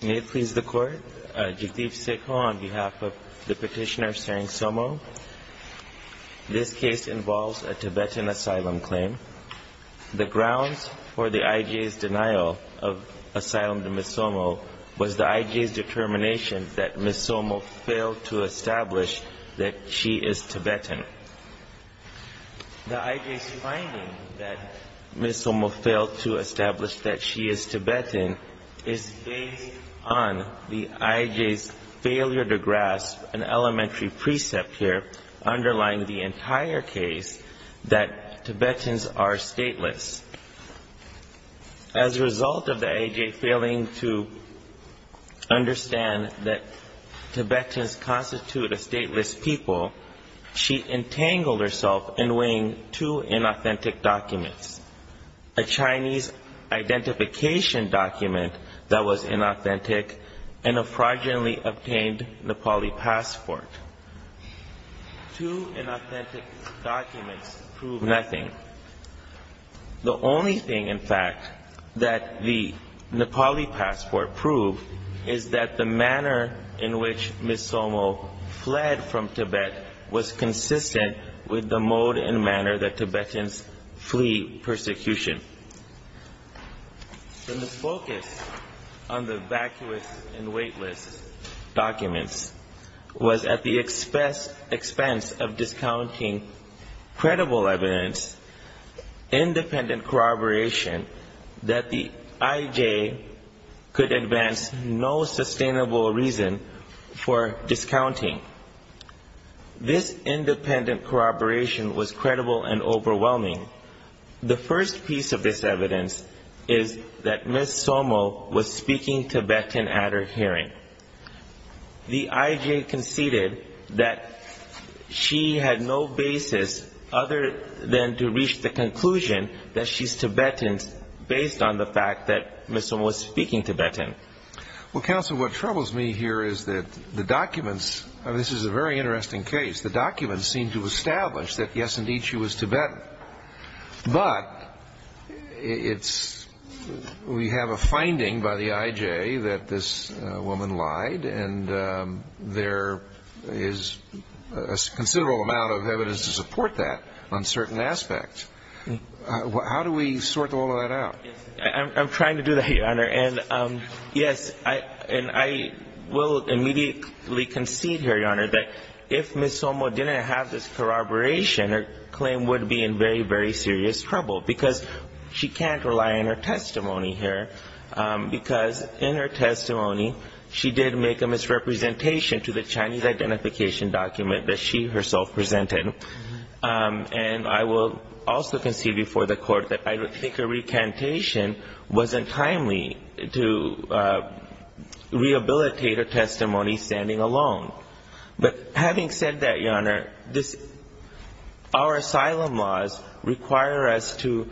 May it please the Court, Jativ Sekho on behalf of the petitioner Tsering Somo. This case involves a Tibetan asylum claim. The grounds for the IJ's denial of asylum to Ms. Somo was the IJ's determination that Ms. Somo failed to establish that she is Tibetan. The Tibetan is based on the IJ's failure to grasp an elementary precept here, underlying the entire case, that Tibetans are stateless. As a result of the IJ failing to understand that Tibetans constitute a stateless people, she entangled herself in weighing two inauthentic documents. A Chinese identification document that was inauthentic and a fraudulently obtained Nepali passport. Two inauthentic documents prove nothing. The only thing in fact that the Nepali passport proved is that the manner in which Ms. Somo fled from Tibet was consistent with the mode and manner that Tibetans flee persecution. The misfocus on the vacuous and weightless documents was at the expense of discounting credible evidence, independent corroboration that the IJ could advance no sustainable reason for discounting. This independent corroboration was credible and overwhelming. The first piece of this evidence is that Ms. Somo was speaking Tibetan at her hearing. The IJ conceded that she had no basis other than to reach the conclusion that she's Tibetan based on the fact that Ms. Somo was speaking Tibetan. Well, counsel, what troubles me here is that the documents, and this is a very interesting case, the documents seem to establish that yes, indeed, she was Tibetan. But it's, we have a finding by the IJ that this woman lied and there is a considerable amount of evidence to support that on certain aspects. How do we sort all of that out? I'm trying to do that, Your Honor. And yes, I will immediately concede here, Your Honor, that if Ms. Somo didn't have this corroboration, her claim would be in very, very serious trouble because she can't rely on her testimony here because in her testimony, she did make a misrepresentation to the Chinese identification document that she herself presented. And I will also concede before the court that I think her recantation wasn't timely to rehabilitate her testimony standing alone. But having said that, Your Honor, our asylum laws require us to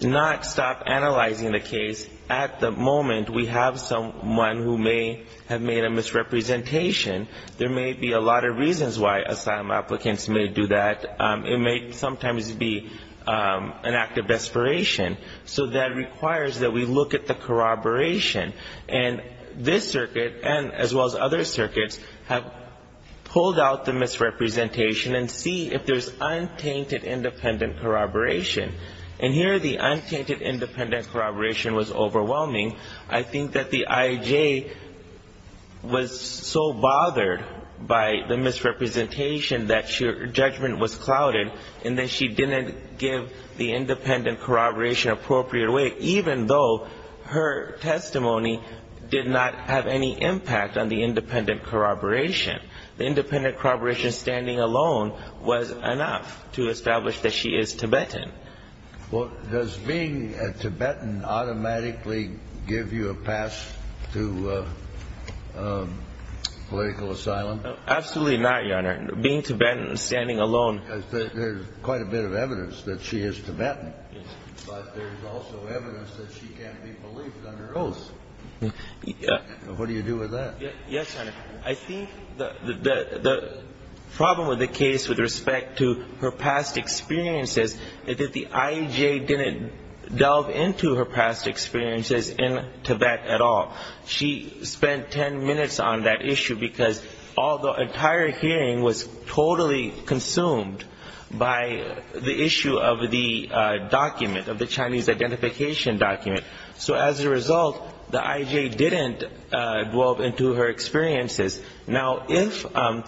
not stop analyzing the case at the moment we have someone who may have made a misrepresentation. There may be a lot of reasons why asylum applicants may do that. It may sometimes be an act of desperation. So that requires that we look at the corroboration. And this circuit, as well as other circuits, have pulled out the misrepresentation and see if there's untainted independent corroboration. And here the untainted independent corroboration was overwhelming. I think that the IJ was so bothered by the misrepresentation that her judgment was clouded and that she didn't give the independent corroboration an appropriate way, even though her testimony did not have any impact on the independent corroboration. The independent corroboration standing alone was enough to establish that she is Tibetan. Well, does being a Tibetan automatically give you a pass to political asylum? Absolutely not, Your Honor. Being Tibetan and standing alone... Because there's quite a bit of evidence that she is Tibetan. But there's also evidence that she can't be believed under oath. What do you do with that? Yes, Your Honor. I think the problem with the case with respect to her past experiences is that the IJ didn't delve into her past experiences in Tibet at all. She spent ten minutes on that issue because all the entire hearing was totally consumed by the issue of the document, of the Chinese identification document. So as a result, the IJ didn't delve into her experiences. Now, if we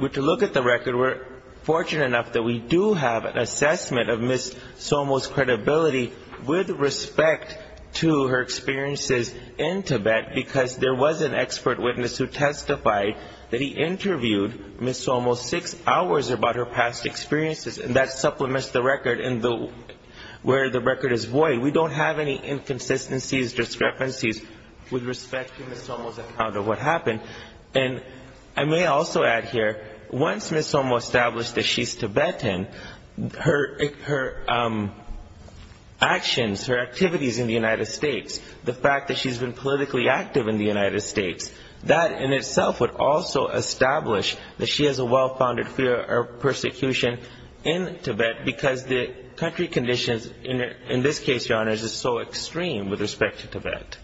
were to look at the record, we're fortunate enough that we do have an assessment of Ms. Somo's credibility with respect to her experiences in Tibet, because there was an expert witness who testified that he interviewed Ms. Somo six hours about her past experiences. And that supplements the record where the record is void. We don't have any inconsistencies, discrepancies with respect to Ms. Somo's account of what happened. And I may also add here, once Ms. Somo established that she's Tibetan, her actions, her activities in the United States, the fact that she's been politically active in the United States, that in itself would also establish that she has a well-founded fear of persecution in Tibet because the country conditions, in this case, Your Honors, is so extreme with respect to Tibet.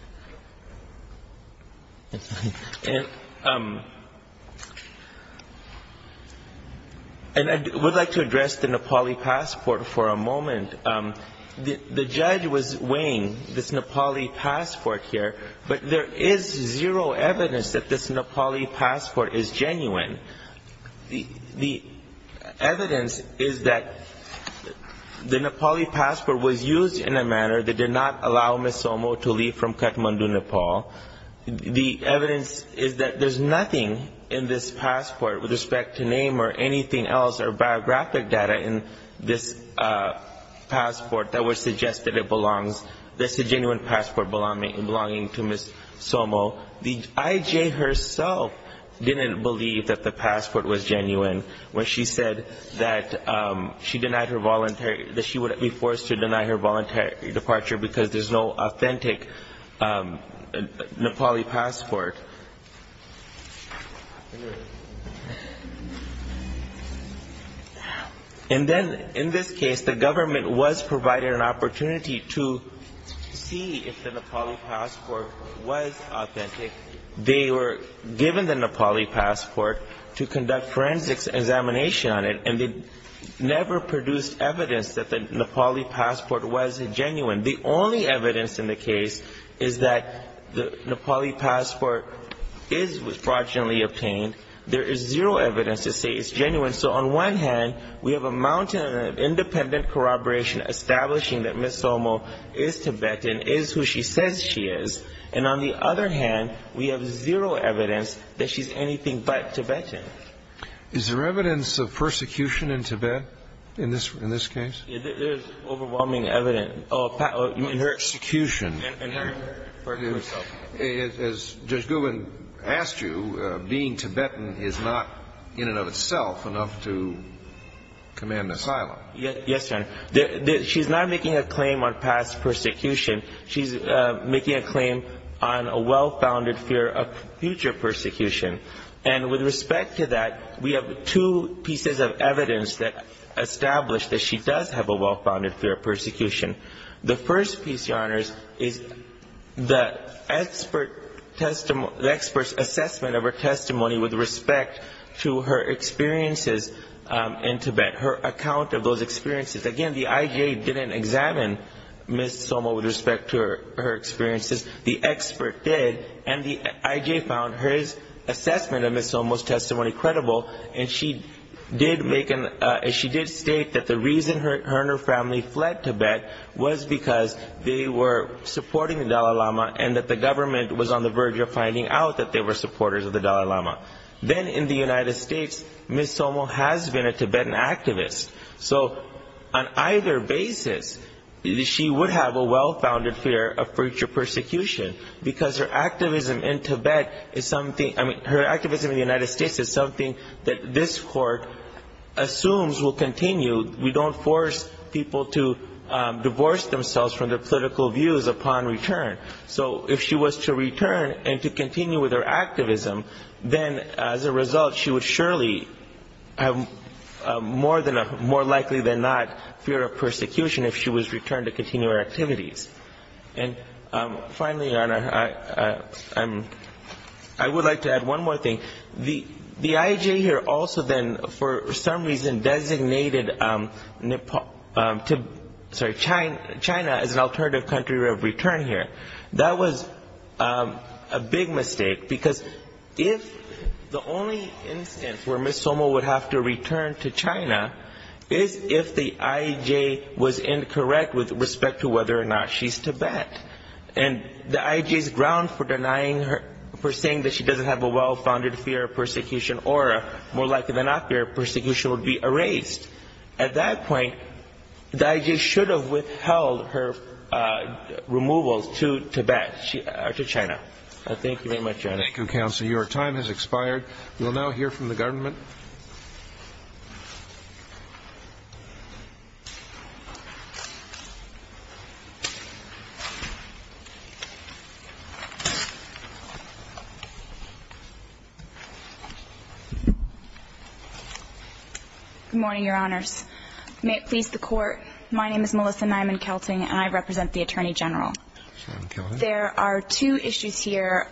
And I would like to address the Nepali passport for a moment. The judge was asking about the Nepali passport here, but there is zero evidence that this Nepali passport is genuine. The evidence is that the Nepali passport was used in a manner that did not allow Ms. Somo to leave from Kathmandu, Nepal. The evidence is that there's nothing in this passport with respect to name or anything else or biographic data in this passport that suggests that it belongs, that it's a genuine passport belonging to Ms. Somo. The IJ herself didn't believe that the passport was genuine when she said that she denied her voluntary that she would be forced to deny her voluntary departure because there's no authentic Nepali passport. And then, in this case, the government was provided an opportunity for Ms. Somo to see if the Nepali passport was authentic. They were given the Nepali passport to conduct forensics examination on it, and they never produced evidence that the Nepali passport was genuine. The only evidence in the case is that the Nepali passport is fraudulently obtained. There is zero evidence to say it's genuine. So on one hand, we have a mountain of independent corroboration establishing that Ms. Somo is Tibetan, is who she says she is. And on the other hand, we have zero evidence that she's anything but Tibetan. Is there evidence of persecution in Tibet in this case? There's overwhelming evidence. In her execution. In her persecution. As Judge Goodwin asked you, being Tibetan is not, in and of itself, enough to command asylum. Yes, Your Honor. She's not making a claim on past persecution. She's making a claim on a well-founded fear of future persecution. And with respect to that, we have two pieces of evidence that establish that she does have a well-founded fear of persecution. The first piece, Your Honors, is the expert assessment of her testimony with respect to her experiences in Tibet. Her account of those experiences. Again, the IJ didn't examine Ms. Somo with respect to her experiences. The expert did. And the IJ found her assessment of Ms. Somo's testimony credible. And she did state that the reason her and her family fled Tibet was because they were supporting the Dalai Lama and that the government was on the verge of finding out that they were supporters of the Dalai Lama. Then in the United States, Ms. Somo has been a Tibetan activist. So on either basis, she would have a well-founded fear of future persecution. Because her activism in Tibet is something – I mean, her activism in the United States is something that this Court assumes will continue. We don't force people to divorce themselves from their political views upon return. So if she was to return and to continue with her activism, then as a result, she would surely have more likely than not fear of persecution if she was returned to continue her activities. And finally, Your Honor, I would like to add one more thing. The IJ here also then for some reason designated Nepal – sorry, China as an alternative country of return here. That was a big mistake. Because if – the only instance where Ms. Somo would have to return to China is if the IJ was incorrect with respect to whether or not she's Tibetan. And the IJ's ground for denying her – for saying that she doesn't have a well-founded fear of persecution or more likely than not fear of persecution would be erased. At that point, the IJ should have withheld her removal to Tibet – to China. Thank you very much, Your Honor. Thank you, Counselor. Your time has expired. We'll now hear from the government. Good morning, Your Honors. May it please the Court, my name is Melissa Nyman-Kelting and I represent the Attorney General. There are two issues here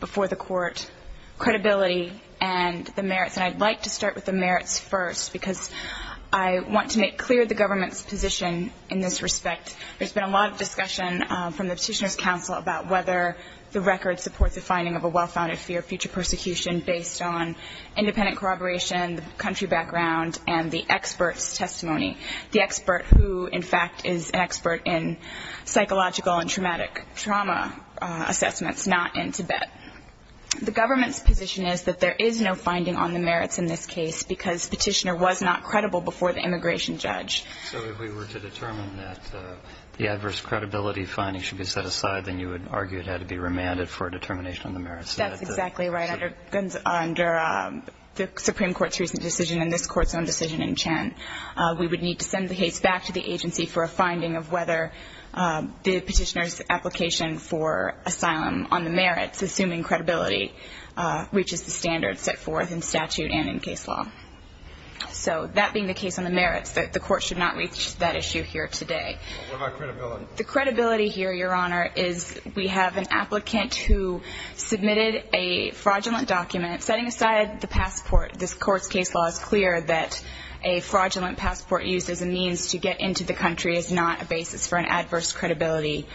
before the Court – credibility and the merits. And I'd like to start with the merits first because I want to make clear the government's position in this respect. There's been a lot of discussion from the Petitioner's Council about whether the record supports the finding of a well-founded fear of future persecution based on independent corroboration, the country background, and the expert's testimony. The expert who, in fact, is an expert in psychological and traumatic trauma assessments, not in Tibet. The government's position is that there is no finding on the merits in this case because Petitioner was not credible before the immigration judge. So if we were to determine that the adverse credibility finding should be set exactly right under the Supreme Court's recent decision and this Court's own decision in Chen, we would need to send the case back to the agency for a finding of whether the Petitioner's application for asylum on the merits, assuming credibility, reaches the standards set forth in statute and in case law. So that being the case on the merits, the Court should not reach that issue here today. What about credibility? The credibility here, Your Honor, is we have an applicant who submitted a fraudulent document. Setting aside the passport, this Court's case law is clear that a fraudulent passport used as a means to get into the country is not a basis for an adverse credibility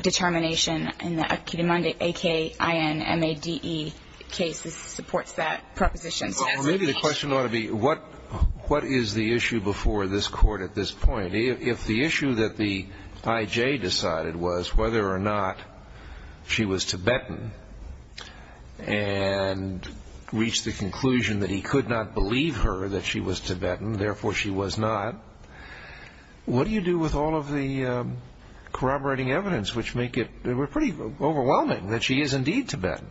determination. And the Akinmande, A-K-I-N-M-A-D-E, case supports that proposition. Well, maybe the question ought to be, what is the issue before this Court at this point? If the issue that the I.J. decided was whether or not she was Tibetan and reached the conclusion that he could not believe her that she was Tibetan, therefore she was not, what do you do with all of the corroborating evidence which make it pretty overwhelming that she is indeed Tibetan?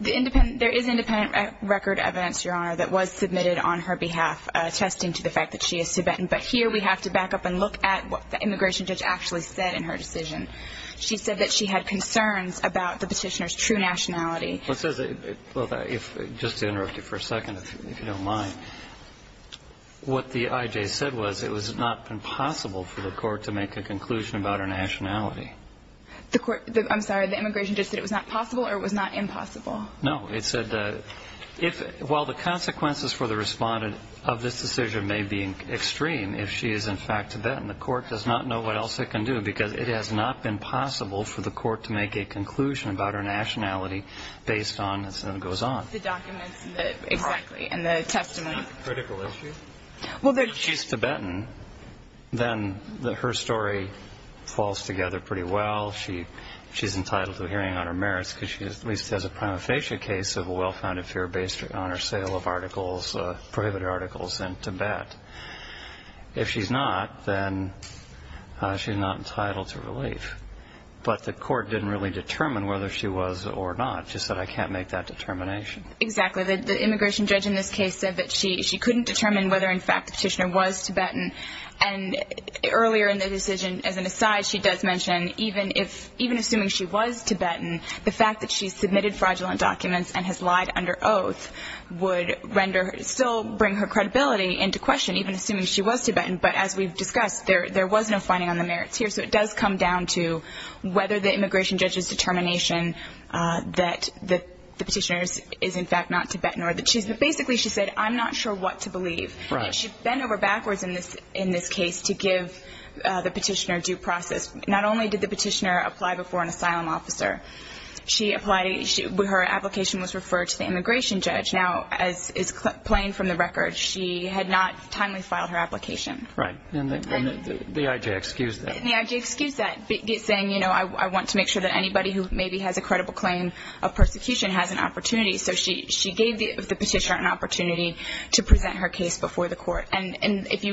There is independent record evidence, Your Honor, that was submitted on her behalf attesting to the fact that she is Tibetan. But here we have to back up and look at what the immigration judge actually said in her decision. She said that she had concerns about the petitioner's true nationality. Well, just to interrupt you for a second, if you don't mind, what the I.J. said was it was not possible for the Court to make a conclusion about her nationality. I'm sorry, the immigration judge said it was not possible or it was not impossible? No, it said that while the consequences for the respondent of this decision may be extreme if she is in fact Tibetan, the Court does not know what else it can do because it has not been possible for the Court to make a conclusion about her nationality based on what goes on. The documents, exactly, and the testimony. Critical issue? Well, she's Tibetan, then her story falls together pretty well. She's entitled to a pardon for her merits because she at least has a prima facie case of a well-founded fear based on her sale of articles, prohibited articles, in Tibet. If she's not, then she's not entitled to relief. But the Court didn't really determine whether she was or not, just that I can't make that determination. Exactly. The immigration judge in this case said that she couldn't determine whether in fact the petitioner was Tibetan. And earlier in the decision, as an aside, she does mention even assuming she was Tibetan, the fact that she submitted fraudulent documents and has lied under oath would still bring her credibility into question, even assuming she was Tibetan. But as we've discussed, there was no finding on the merits here. So it does come down to whether the immigration judge's determination that the petitioner is in fact not Tibetan or that she's not. But basically she said, I'm not sure what to believe. And she bent over backwards in this case to give the petitioner due process. Not only did the petitioner apply before an asylum officer, her application was referred to the immigration judge. Now, as is plain from the record, she had not timely filed her application. Right. And the IJ excused that. And the IJ excused that, saying, I want to make sure that anybody who maybe has a credible claim of persecution has an opportunity. So she gave the petitioner an opportunity to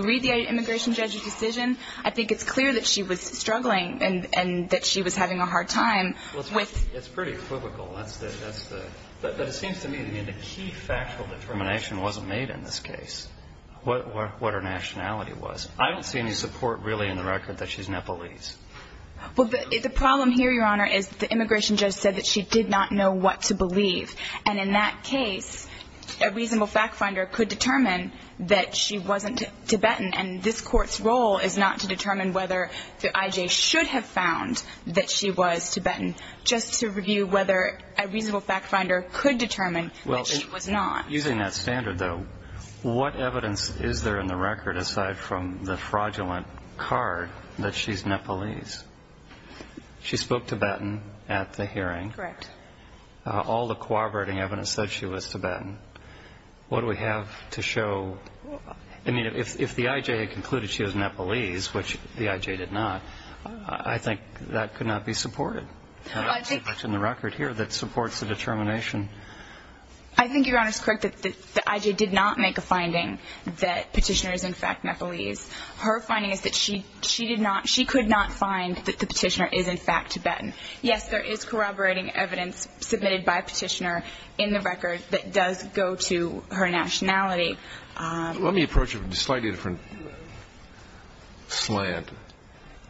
read the immigration judge's decision. I think it's clear that she was struggling and that she was having a hard time with It's pretty equivocal. But it seems to me that the key factual determination wasn't made in this case, what her nationality was. I don't see any support really in the record that she's Nepalese. Well, the problem here, Your Honor, is the immigration judge said that she did not know what to believe. And in that case, a reasonable fact finder could determine that she wasn't Tibetan. And this Court's role is not to determine whether the IJ should have found that she was Tibetan, just to review whether a reasonable fact finder could determine that she was not. Using that standard, though, what evidence is there in the record, aside from the fraudulent card, that she's Nepalese? She spoke Tibetan at the hearing. Correct. All the corroborating evidence said she was Tibetan. What do we have to show? I mean, if the IJ had concluded she was Nepalese, which the IJ did not, I think that could not be supported. I don't see much in the record here that supports the determination. I think Your Honor's correct that the IJ did not make a finding that the petitioner is in fact Nepalese. Her finding is that she could not find that the petitioner is in fact Let me approach it from a slightly different slant.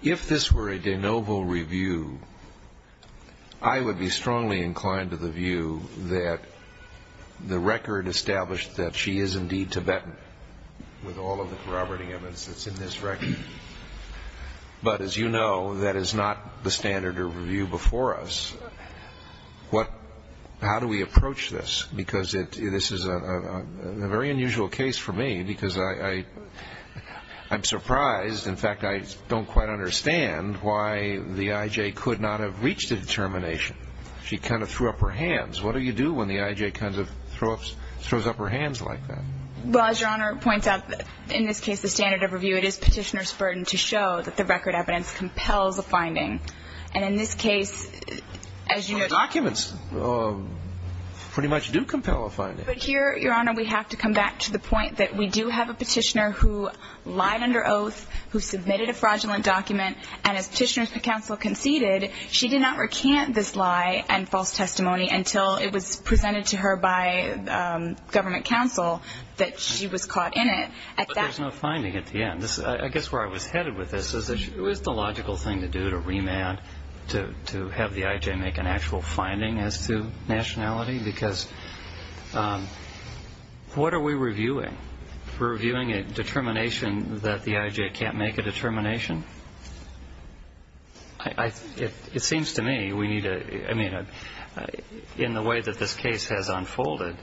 If this were a de novo review, I would be strongly inclined to the view that the record established that she is indeed Tibetan with all of the corroborating evidence that's in this record. But as you know, that is not the standard of review before us. How do we approach this? Because this is a very unusual case for me, because I'm surprised, in fact, I don't quite understand why the IJ could not have reached a determination. She kind of threw up her hands. What do you do when the IJ kind of throws up her hands like that? Well, as Your Honor points out, in this case, the standard of review, it is petitioner's compelling finding. And in this case, as you know But here, Your Honor, we have to come back to the point that we do have a petitioner who lied under oath, who submitted a fraudulent document, and as petitioner's counsel conceded, she did not recant this lie and false testimony until it was presented to her by government counsel that she was caught in it. But there's no finding at the end. I guess where I was headed with this is that it was just a logical thing to do, to remand, to have the IJ make an actual finding as to nationality, because what are we reviewing? We're reviewing a determination that the IJ can't make a determination? It seems to me we need to, I mean, in the way that this case has unfolded,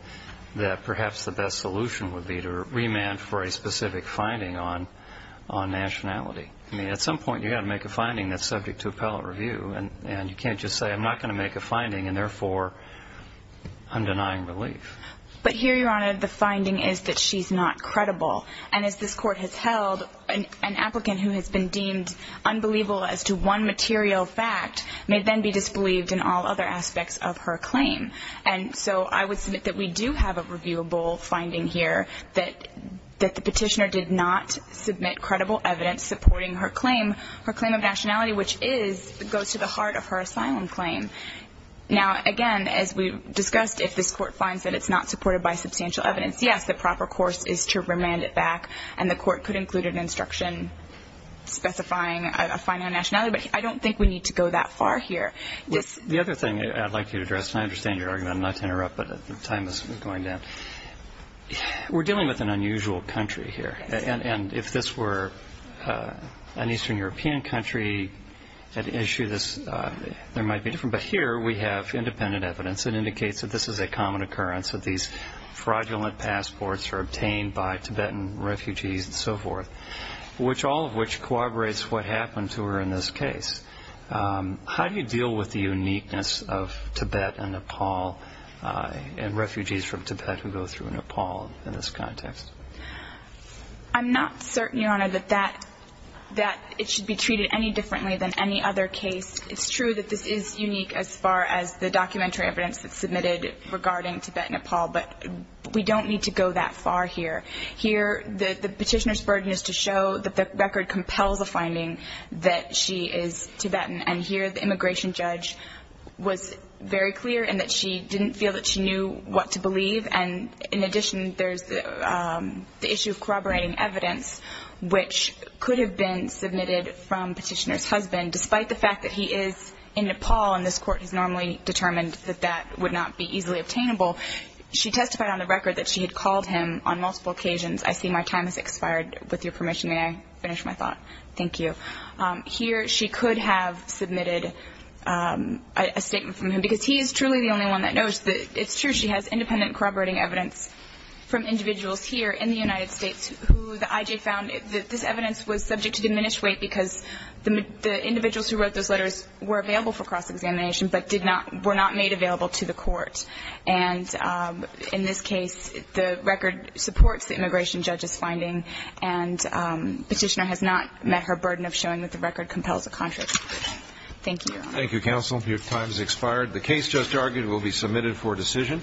that perhaps the best solution would be to remand for a specific finding on nationality. I mean, at some point you've got to make a finding that's subject to appellate review, and you can't just say, I'm not going to make a finding, and therefore I'm denying relief. But here, Your Honor, the finding is that she's not credible. And as this Court has held, an applicant who has been deemed unbelievable as to one material fact may then be disbelieved in all other aspects of her claim. And so I would submit that we do have a reviewable finding here that the Petitioner did not submit credible evidence supporting her claim, her claim of nationality, which is, goes to the heart of her asylum claim. Now, again, as we discussed, if this Court finds that it's not supported by substantial evidence, yes, the proper course is to remand it back, and the Court could include an instruction specifying a finding on nationality, but I don't think we need to go that far here. The other thing I'd like you to address, and I understand your argument, I'm not to interrupt, but the time is going down. We're dealing with an unusual country here, and if this were an Eastern European country at issue, there might be a difference. But here we have independent evidence that indicates that this is a common occurrence, that these fraudulent passports are obtained by Tibetan refugees and so forth, all of which corroborates what we're in this case. How do you deal with the uniqueness of Tibet and Nepal and refugees from Tibet who go through Nepal in this context? I'm not certain, Your Honor, that that, that it should be treated any differently than any other case. It's true that this is unique as far as the documentary evidence that's submitted regarding Tibet-Nepal, but we don't need to go that far here. Here, the Petitioner's finding that she is Tibetan, and here the immigration judge was very clear in that she didn't feel that she knew what to believe. And in addition, there's the issue of corroborating evidence, which could have been submitted from Petitioner's husband, despite the fact that he is in Nepal, and this Court has normally determined that that would not be easily obtainable. She testified on the record that she had called him on multiple occasions. I see my time has come. Thank you. Here, she could have submitted a statement from him, because he is truly the only one that knows that it's true she has independent corroborating evidence from individuals here in the United States who the IJ found that this evidence was subject to diminished weight because the individuals who wrote those letters were available for cross-examination, but were not made available to the Court. And in this case, the record supports the immigration judge's finding, and Petitioner has not met her burden of showing that the record compels a contradiction. Thank you, Your Honor. Thank you, counsel. Your time has expired. The case just argued will be submitted for decision.